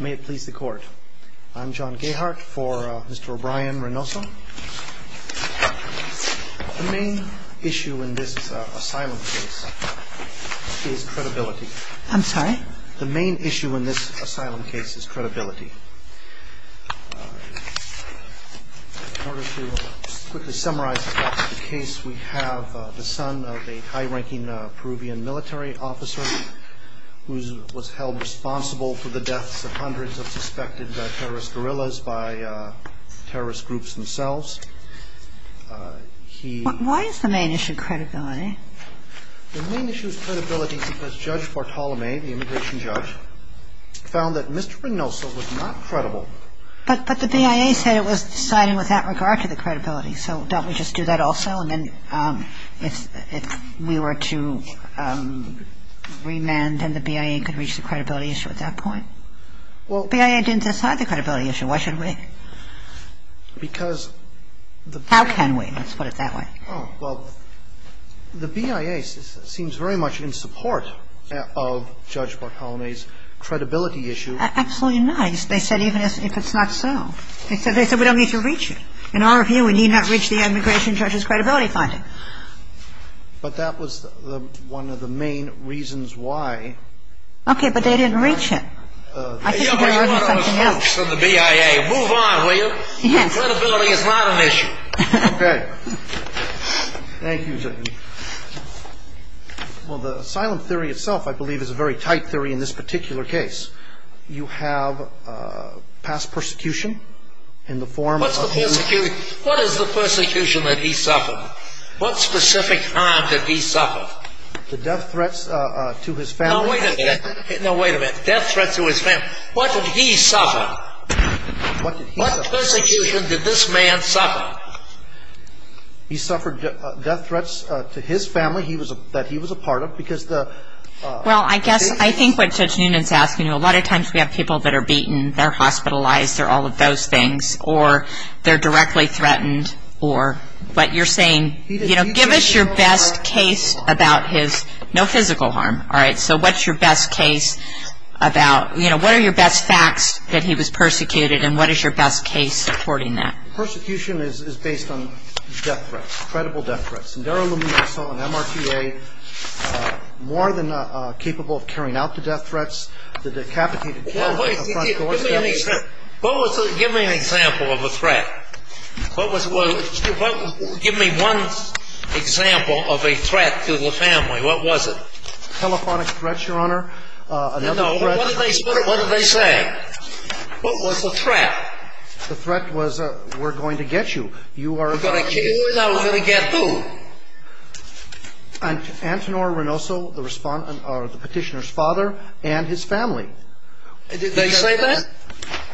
May it please the Court. I'm John Gayhart for Mr. O'Brien-Reynoso. The main issue in this asylum case is credibility. I'm sorry? The main issue in this asylum case is credibility. In order to quickly summarize the case, we have the son of a high-ranking Peruvian military officer who was held responsible for the deaths of hundreds of suspected terrorist guerrillas by terrorist groups themselves. Why is the main issue credibility? The main issue is credibility because Judge Bartolome, the immigration judge, found that Mr. Reynoso was not credible. But the BIA said it was decided without regard to the credibility, so don't we just do that also? And then if we were to remand, then the BIA could reach the credibility issue at that point? Well, BIA didn't decide the credibility issue. Why should we? Because the BIA seems very much in support of Judge Bartolome's credibility issue. Absolutely not. They said even if it's not so. They said we don't need to reach it. In our view, we need not reach the immigration judge's credibility finding. But that was one of the main reasons why. Okay, but they didn't reach it. I think there was something else. Move on, will you? Credibility is not an issue. Okay. Thank you, Judy. Well, the asylum theory itself, I believe, is a very tight theory in this particular case. You have past persecution in the form of you. What is the persecution that he suffered? What specific harm did he suffer? The death threats to his family. No, wait a minute. Death threats to his family. What did he suffer? What persecution did this man suffer? He suffered death threats to his family that he was a part of because the... Judge Newman is asking, a lot of times we have people that are beaten, they're hospitalized, they're all of those things, or they're directly threatened, or what you're saying... Give us your best case about his... No physical harm. All right, so what's your best case about... What are your best facts that he was persecuted, and what is your best case supporting that? Persecution is based on death threats, credible death threats. Indira Luminoso, an MRTA, more than capable of carrying out the death threats, the decapitated... Give me an example of a threat. Give me one example of a threat to the family. What was it? Telephonic threats, Your Honor. No, no, what did they say? What was the threat? The threat was, we're going to get you. We're going to kill you, and I'm going to get who? Antonor Renoso, the petitioner's father, and his family. Did they say that?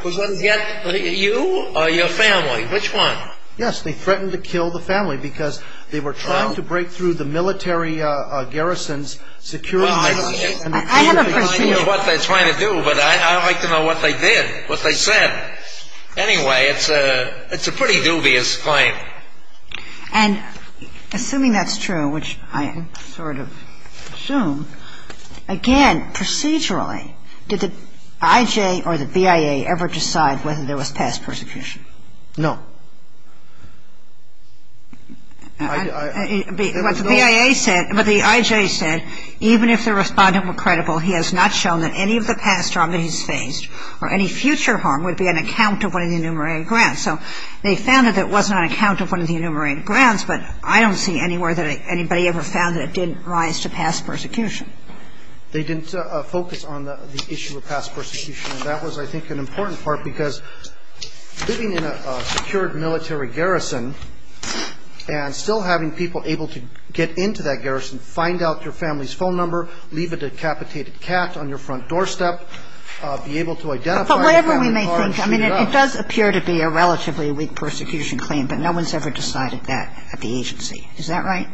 You or your family, which one? Yes, they threatened to kill the family because they were trying to break through the military garrison's security... I haven't seen it. I don't know what they're trying to do, but I'd like to know what they did, what they said. Anyway, it's a pretty dubious claim. And assuming that's true, which I sort of assume, again, procedurally, did the IJ or the BIA ever decide whether there was past persecution? No. What the BIA said, what the IJ said, even if the Respondent were credible, he has not shown that any of the past harm that he's faced or any future harm would be an account of one of the enumerated grants. So they found that it was an account of one of the enumerated grants, but I don't see anywhere that anybody ever found that it didn't rise to past persecution. They didn't focus on the issue of past persecution, and that was, I think, an important part, because living in a secured military garrison and still having people able to get into that garrison, find out your family's phone number, leave a decapitated cat on your front doorstep, be able to identify your family card... But whatever we may think, I mean, it does appear to be a relatively weak persecution claim, but no one's ever decided that at the agency. Is that right?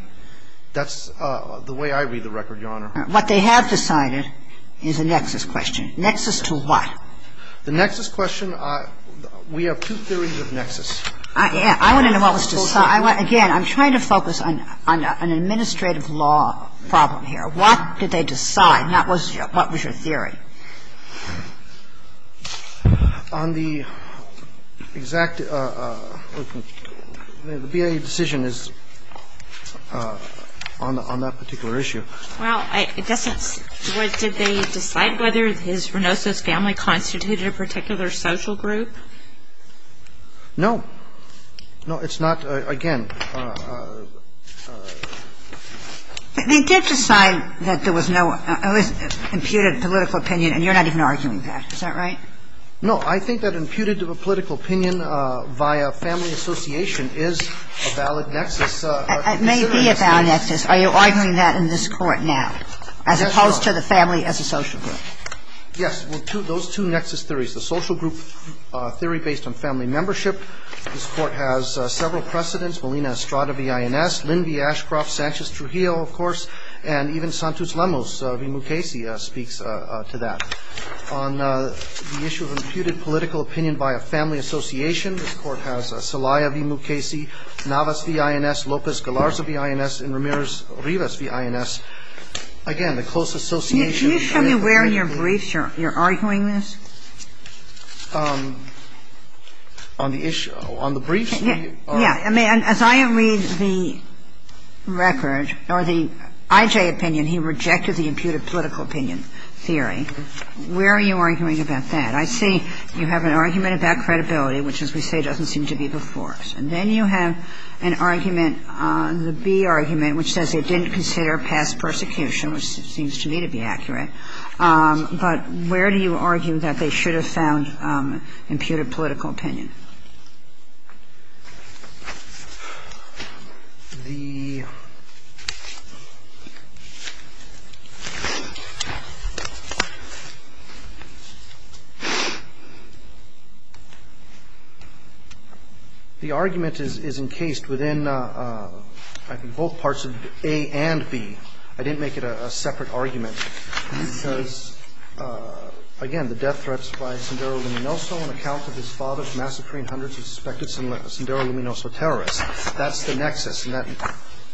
That's the way I read the record, Your Honor. All right. What they have decided is a nexus question. Nexus to what? The nexus question, we have two theories of nexus. I want to know what was decided. Again, I'm trying to focus on an administrative law problem here. What did they decide? What was your theory? On the exact... The BIA decision is on that particular issue. Well, I guess that's... Did they decide whether his renosis family constituted a particular social group? No. No, it's not. Again. They did decide that there was no imputed political opinion, and you're not even arguing that. Is that right? No. I think that imputed political opinion via family association is a valid nexus. It may be a valid nexus. Are you arguing that in this Court now as opposed to the family as a social group? Yes. Those two nexus theories, the social group theory based on family membership, this Court has several precedents, Melina Estrada v. INS, Lynn V. Ashcroft, Sanchez Trujillo, of course, and even Santos Lemos v. Mukasey speaks to that. On the issue of imputed political opinion by a family association, this Court has And then you have the case of the family association, of course, Rivas v. INS, again, the close association. Can you show me where in your briefs you're arguing this? On the issue. On the briefs? Yes. I mean, as I read the record or the I.J. opinion, he rejected the imputed political opinion theory. Where are you arguing about that? I see you have an argument about credibility, which as we say doesn't seem to be before us. And then you have an argument, the B argument, which says they didn't consider past persecution, which seems to me to be accurate. But where do you argue that they should have found imputed political opinion? The argument is encased within, I think, both parts of A and B. I didn't make it a separate argument because, again, the death threats by Sandero Luminoso terrorists. That's the nexus, and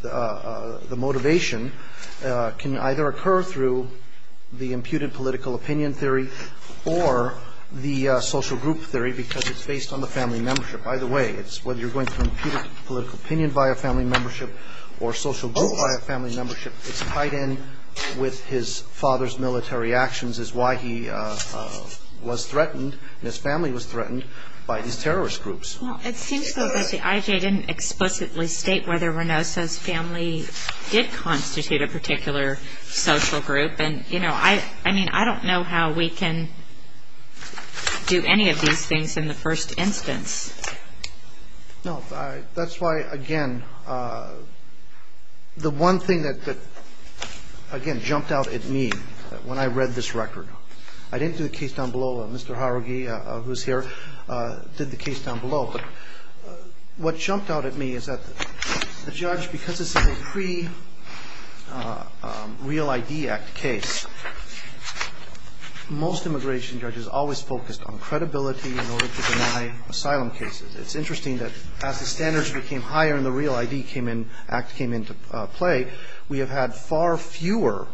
the motivation can either occur through the imputed political opinion theory or the social group theory because it's based on the family membership. Either way, whether you're going for imputed political opinion by a family membership or social group by a family membership, it's tied in with his father's military actions is why he was threatened and his family was threatened by these terrorist groups. Well, it seems to me that the IJ didn't explicitly state whether Luminoso's family did constitute a particular social group. And, you know, I mean, I don't know how we can do any of these things in the first instance. No. That's why, again, the one thing that, again, jumped out at me when I read this record. I didn't do the case down below. Mr. Harugi, who's here, did the case down below. But what jumped out at me is that the judge, because this is a pre-Real ID Act case, most immigration judges always focused on credibility in order to deny asylum cases. It's interesting that as the standards became higher and the Real ID Act came into play, we have had far fewer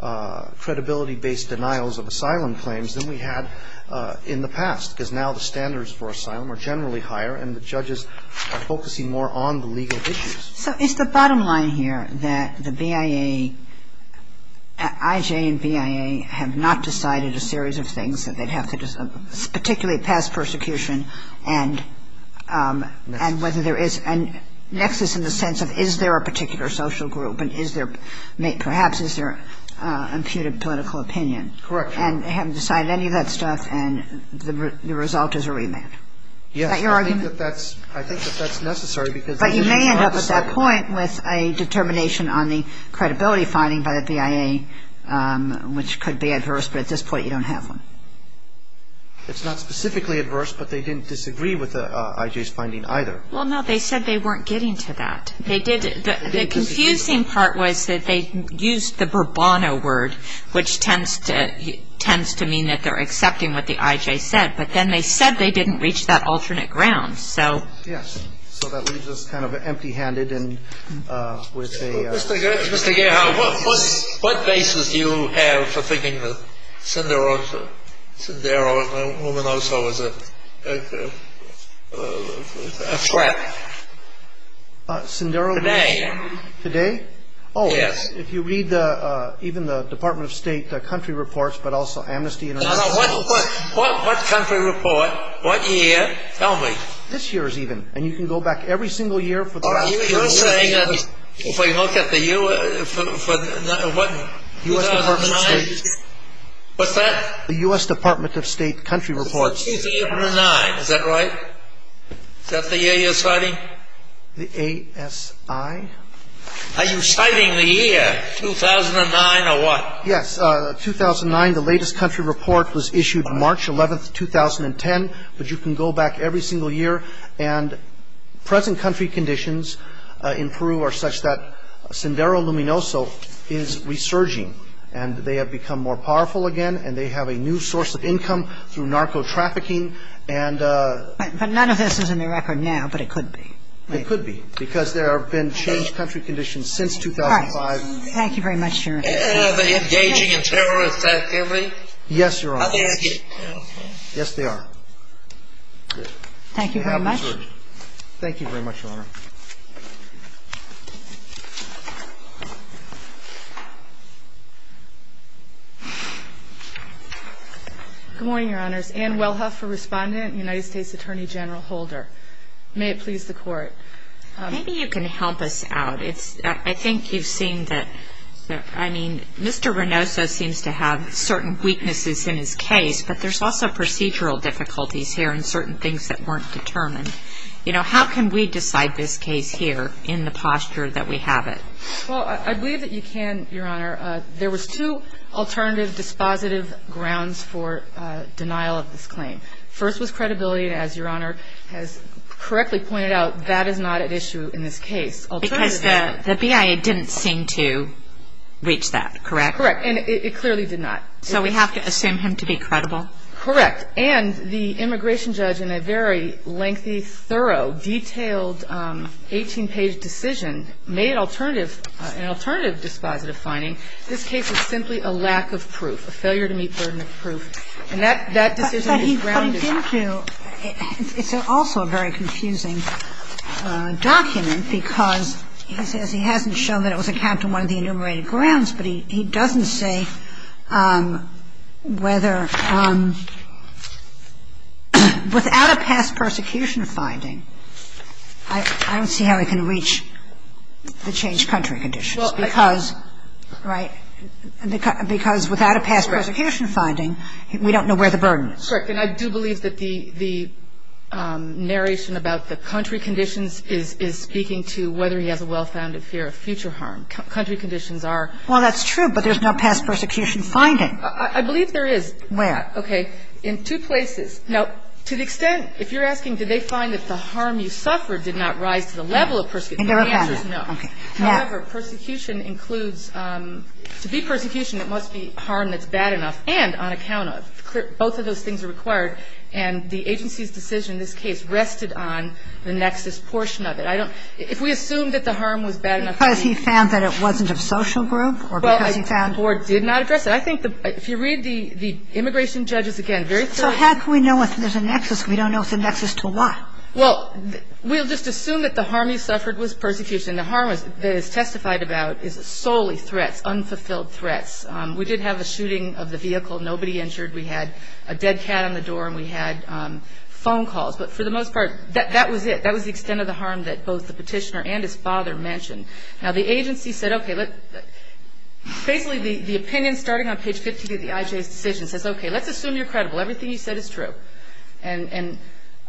credibility-based denials of asylum cases than we had in the past, because now the standards for asylum are generally higher and the judges are focusing more on the legal issues. So is the bottom line here that the BIA, IJ and BIA, have not decided a series of things that they'd have to decide, particularly past persecution and whether there is a nexus in the sense of is there a particular social group and is there perhaps is there an imputed political opinion? Correct. And haven't decided any of that stuff and the result is a remand? Yes. Is that your argument? I think that that's necessary because But you may end up at that point with a determination on the credibility finding by the BIA, which could be adverse, but at this point you don't have one. It's not specifically adverse, but they didn't disagree with the IJ's finding either. Well, no, they said they weren't getting to that. They did. The confusing part was that they used the Burbano word, which tends to mean that they're accepting what the IJ said, but then they said they didn't reach that alternate ground. So. Yes. So that leaves us kind of empty-handed and with a Mr. Geha, what basis do you have for thinking that Sundaro, a woman also, is a threat? Sundaro. Today. Today? Yes. Oh, if you read even the Department of State country reports, but also Amnesty International reports. What country report? What year? Tell me. This year's even, and you can go back every single year for the last You're saying that, if I look at the year, what, 2009? U.S. Department of State. What's that? The U.S. Department of State country reports. 2009, is that right? Is that the year you're citing? The A.S.I.? Are you citing the year, 2009, or what? Yes, 2009, the latest country report was issued March 11th, 2010, but you can go back every single year, and present country conditions in Peru are such that Sundaro Luminoso is resurging, and they have become more powerful again, and they have a new source of income through narco trafficking, and But none of this is in the record now, but it could be. It could be, because there have been changed country conditions since 2005. All right. Thank you very much, Your Honor. Are they engaging in terror effectively? Yes, Your Honor. Are they active? Yes, they are. Good. Thank you very much. Thank you very much, Your Honor. Good morning, Your Honors. Ann Wellhoff for Respondent, United States Attorney General Holder. May it please the Court. Maybe you can help us out. I think you've seen that, I mean, Mr. Rinoso seems to have certain weaknesses in his case, but there's also procedural difficulties here and certain things that weren't determined. You know, how can we decide this case here in the posture that we have it? Well, I believe that you can, Your Honor. There was two alternative dispositive grounds for denial of this claim. First was credibility, and as Your Honor has correctly pointed out, that is not at issue in this case. Because the BIA didn't seem to reach that, correct? Correct. And it clearly did not. So we have to assume him to be credible? Correct. And the immigration judge in a very lengthy, thorough, detailed, 18-page decision made an alternative dispositive finding. This case is simply a lack of proof, a failure to meet burden of proof. And that decision is grounded. But he put it into, it's also a very confusing document because he says he hasn't shown that it was a cap to one of the enumerated grounds, but he doesn't say whether he has a well-founded fear of future harm. He says whether he has a well-founded fear of future harm. Without a past persecution finding, I don't see how he can reach the changed country conditions because, right, because without a past persecution finding, we don't know where the burden is. Correct. And I do believe that the narration about the country conditions is speaking to whether he has a well-founded fear of future harm. Country conditions are. Well, that's true, but there's no past persecution finding. I believe there is. Where? Okay. In two places. Now, to the extent, if you're asking did they find that the harm you suffered did not rise to the level of persecution, the answer is no. However, persecution includes, to be persecution, it must be harm that's bad enough and on account of. Both of those things are required, and the agency's decision in this case rested on the nexus portion of it. I don't – if we assume that the harm was bad enough. Because he found that it wasn't of social group or because he found. Well, the board did not address it. I think if you read the immigration judges, again, very thoroughly. So how can we know if there's a nexus if we don't know if the nexus is to what? Well, we'll just assume that the harm he suffered was persecution. The harm that is testified about is solely threats, unfulfilled threats. We did have a shooting of the vehicle. Nobody injured. We had a dead cat on the door, and we had phone calls. But for the most part, that was it. That was the extent of the harm that both the petitioner and his father mentioned. Now, the agency said, okay, basically the opinion starting on page 53 of the IJ's decision says, okay, let's assume you're credible. Everything you said is true. And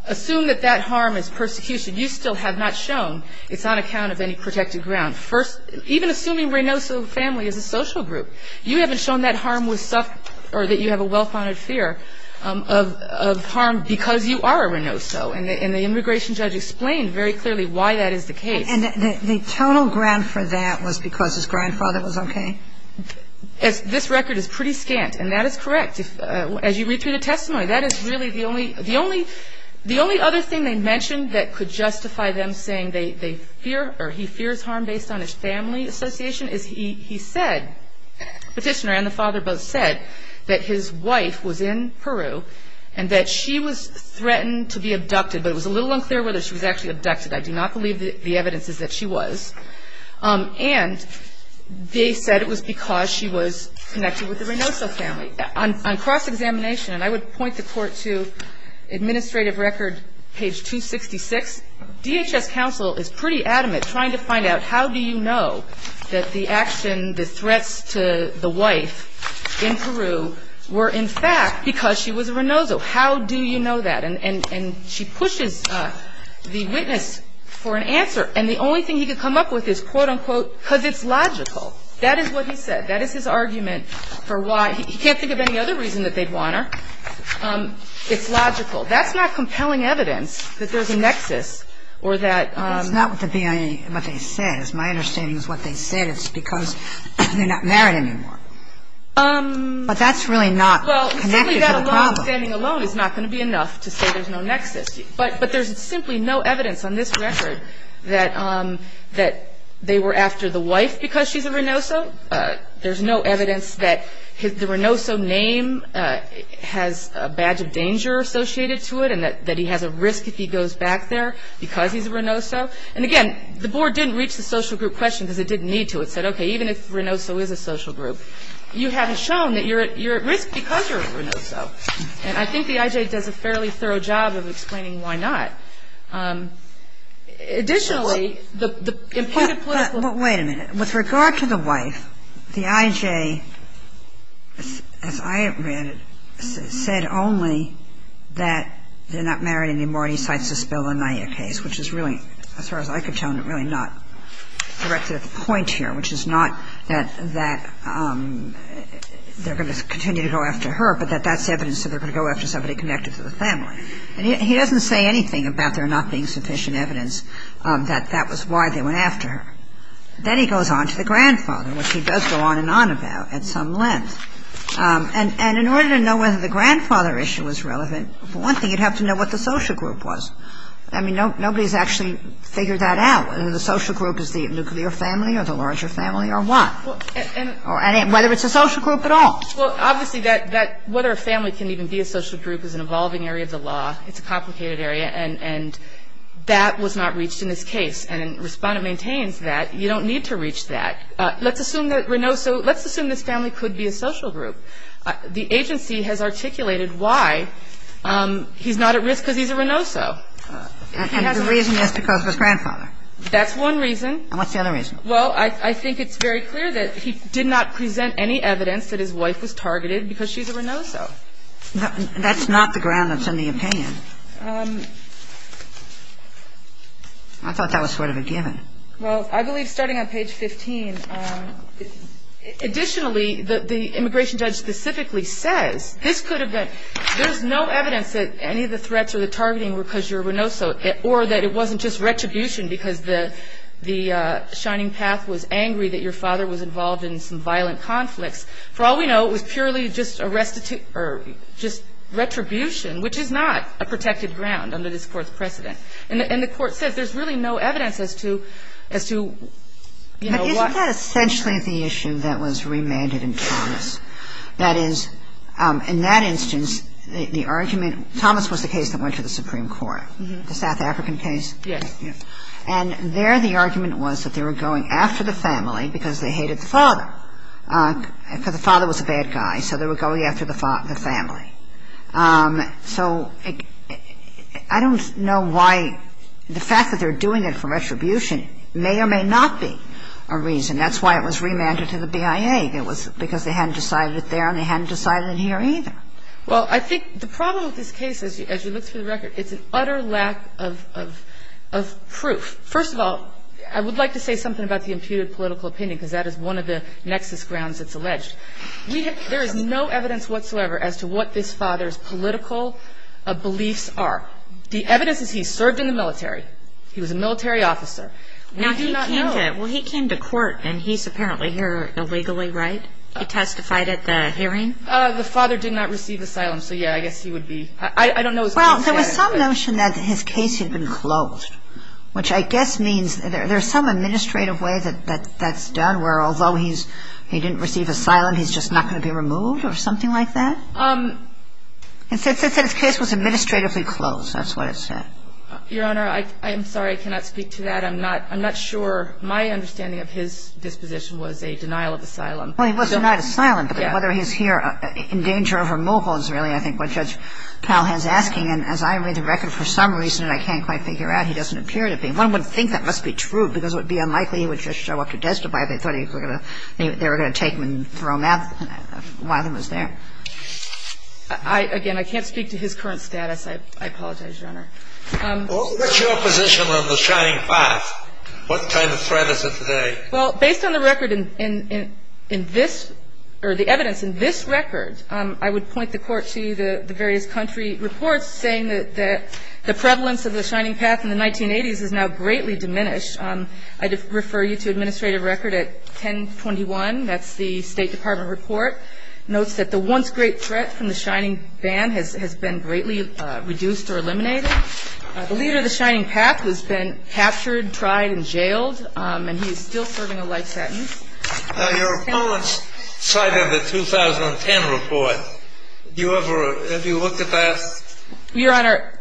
assume that that harm is persecution. You still have not shown it's on account of any protected ground. First, even assuming Reynoso family is a social group, you haven't shown that harm was suffered or that you have a well-founded fear of harm because you are a Reynoso. And the immigration judge explained very clearly why that is the case. And the total grant for that was because his grandfather was okay? This record is pretty scant. And that is correct. As you read through the testimony, that is really the only other thing they mentioned that could justify them saying they fear or he fears harm based on his family association is he said, the petitioner and the father both said, that his wife was in Peru and that she was threatened to be abducted. But it was a little unclear whether she was actually abducted. I do not believe the evidence is that she was. And they said it was because she was connected with the Reynoso family. On cross-examination, and I would point the Court to administrative record page 266, DHS counsel is pretty adamant trying to find out how do you know that the action, the threats to the wife in Peru were in fact because she was a Reynoso. How do you know that? And she pushes the witness for an answer. And the only thing he could come up with is, quote, unquote, because it's logical. That is what he said. That is his argument for why he can't think of any other reason that they'd want her. It's logical. That's not compelling evidence that there's a nexus or that. It's not what the BIA, what they said. My understanding is what they said is because they're not married anymore. But that's really not connected to the problem. Well, simply that alone, standing alone is not going to be enough to say there's no nexus. But there's simply no evidence on this record that they were after the wife because she's a Reynoso. There's no evidence that the Reynoso name has a badge of danger associated to it and that he has a risk if he goes back there because he's a Reynoso. And, again, the board didn't reach the social group question because it didn't need to. It said, okay, even if Reynoso is a social group, you haven't shown that you're at risk because you're a Reynoso. And I think the IJ does a fairly thorough job of explaining why not. Additionally, the imputed political – the IJ, as I read it, said only that they're not married anymore. He cites the Spillania case, which is really, as far as I could tell, really not directed at the point here, which is not that they're going to continue to go after her, but that that's evidence that they're going to go after somebody connected to the family. And he doesn't say anything about there not being sufficient evidence that that was why they went after her. And then he goes on to the grandfather, which he does go on and on about at some length. And in order to know whether the grandfather issue was relevant, for one thing you'd have to know what the social group was. I mean, nobody's actually figured that out, whether the social group is the nuclear family or the larger family or what. Or whether it's a social group at all. Well, obviously, that – whether a family can even be a social group is an evolving area of the law. It's a complicated area. And that was not reached in this case. And Respondent maintains that you don't need to reach that. Let's assume that Renoso – let's assume this family could be a social group. The agency has articulated why. He's not at risk because he's a Renoso. And the reason is because of his grandfather. That's one reason. And what's the other reason? Well, I think it's very clear that he did not present any evidence that his wife was targeted because she's a Renoso. That's not the ground that's in the opinion. I thought that was sort of a given. Well, I believe, starting on page 15, additionally, the immigration judge specifically says, this could have been – there's no evidence that any of the threats or the targeting were because you're a Renoso or that it wasn't just retribution because the Shining Path was angry that your father was involved in some violent conflicts. For all we know, it was purely just retribution, which is not a crime. It was a protected ground under this Court's precedent. And the Court says there's really no evidence as to, you know, what – But isn't that essentially the issue that was remanded in Thomas? That is, in that instance, the argument – Thomas was the case that went to the Supreme Court, the South African case. Yes. And there the argument was that they were going after the family because they hated the father, because the father was a bad guy, so they were going after the family. So I don't know why the fact that they're doing it for retribution may or may not be a reason. That's why it was remanded to the BIA. It was because they hadn't decided it there and they hadn't decided it here either. Well, I think the problem with this case, as you look through the record, it's an utter lack of proof. First of all, I would like to say something about the imputed political opinion, because that is one of the nexus grounds it's alleged. There is no evidence whatsoever as to what this father's political beliefs are. The evidence is he served in the military. He was a military officer. We do not know. Now, he came to – well, he came to court, and he's apparently here illegally, right? He testified at the hearing? The father did not receive asylum, so, yeah, I guess he would be – I don't know – Well, there was some notion that his case had been closed, which I guess means there's some administrative way that that's done, where although he's – he didn't receive asylum, he's just not going to be removed or something like that? It says that his case was administratively closed. That's what it said. Your Honor, I'm sorry. I cannot speak to that. I'm not – I'm not sure. My understanding of his disposition was a denial of asylum. Well, he was denied asylum. But whether he's here in danger of removal is really, I think, what Judge Palhan's asking. And as I read the record, for some reason, and I can't quite figure out, he doesn't appear to be. One would think that must be true, because it would be unlikely he would just show up to testify if they thought they were going to take him and throw him out. One of them was there. Again, I can't speak to his current status. I apologize, Your Honor. What's your position on the Shining Path? What kind of threat is it today? Well, based on the record in this – or the evidence in this record, I would point the Court to the various country reports saying that the prevalence of the Shining Path in the 1980s has now greatly diminished. I'd refer you to administrative record at 1021. That's the State Department report. It notes that the once great threat from the Shining Ban has been greatly reduced or eliminated. The leader of the Shining Path has been captured, tried, and jailed, and he is still serving a life sentence. Now, your opponents cited the 2010 report. Do you ever – have you looked at that? Your Honor,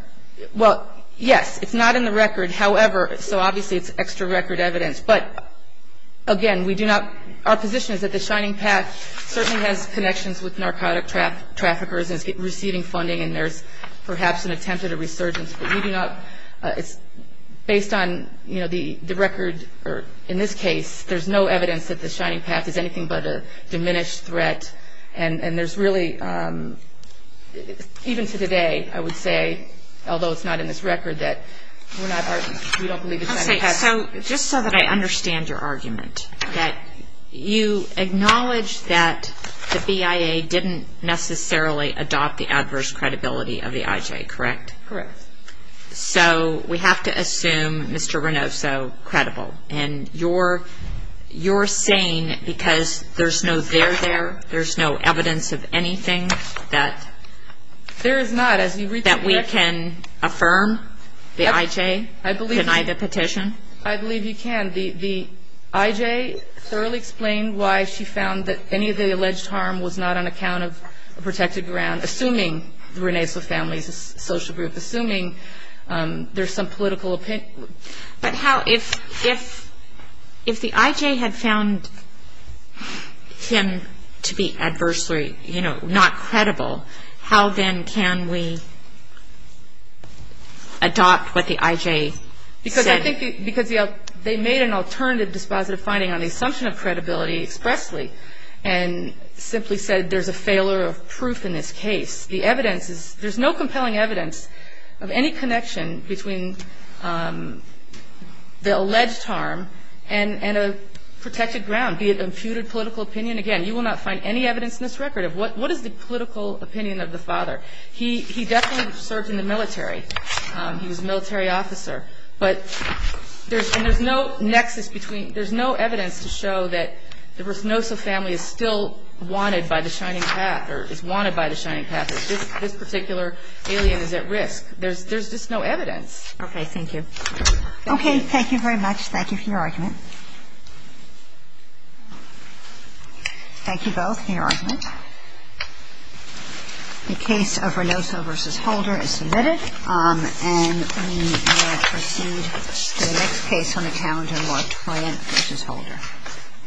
well, yes. It's not in the record. However – so obviously it's extra record evidence. But, again, we do not – our position is that the Shining Path certainly has connections with narcotic traffickers and is receiving funding, and there's perhaps an attempt at a resurgence. But we do not – it's based on, you know, the record – or in this case, there's no evidence that the Shining Path is anything but a diminished threat. And there's really – even to today, I would say, although it's not in this record, that we're not – we don't believe it's the Shining Path. So just so that I understand your argument, that you acknowledge that the BIA didn't necessarily adopt the adverse credibility of the IJ, correct? Correct. So we have to assume Mr. Renoso credible. And you're saying because there's no there there, there's no evidence of anything that – There is not. That we can affirm the IJ, deny the petition? I believe you can. The IJ thoroughly explained why she found that any of the alleged harm was not on account of a protected ground, assuming the Renoso family's social group, assuming there's some political opinion. But how – if the IJ had found him to be adversely, you know, not credible, how then can we adopt what the IJ said? Because I think – because they made an alternative dispositive finding on the assumption of credibility expressly and simply said there's a failure of proof in this case. The evidence is – there's no compelling evidence of any connection between the alleged harm and a protected ground, be it imputed political opinion. Again, you will not find any evidence in this record of what is the political opinion of the father. He definitely served in the military. He was a military officer. But there's no nexus between – there's no evidence to show that the Renoso family is still wanted by the Shining Path or is wanted by the Shining Path. This particular alien is at risk. There's just no evidence. Okay. Thank you. Okay. Thank you very much. Thank you for your argument. Thank you both for your argument. The case of Renoso v. Holder is submitted. And we will proceed to the next case on account of LaTrient v. Holder. Thank you. Thank you.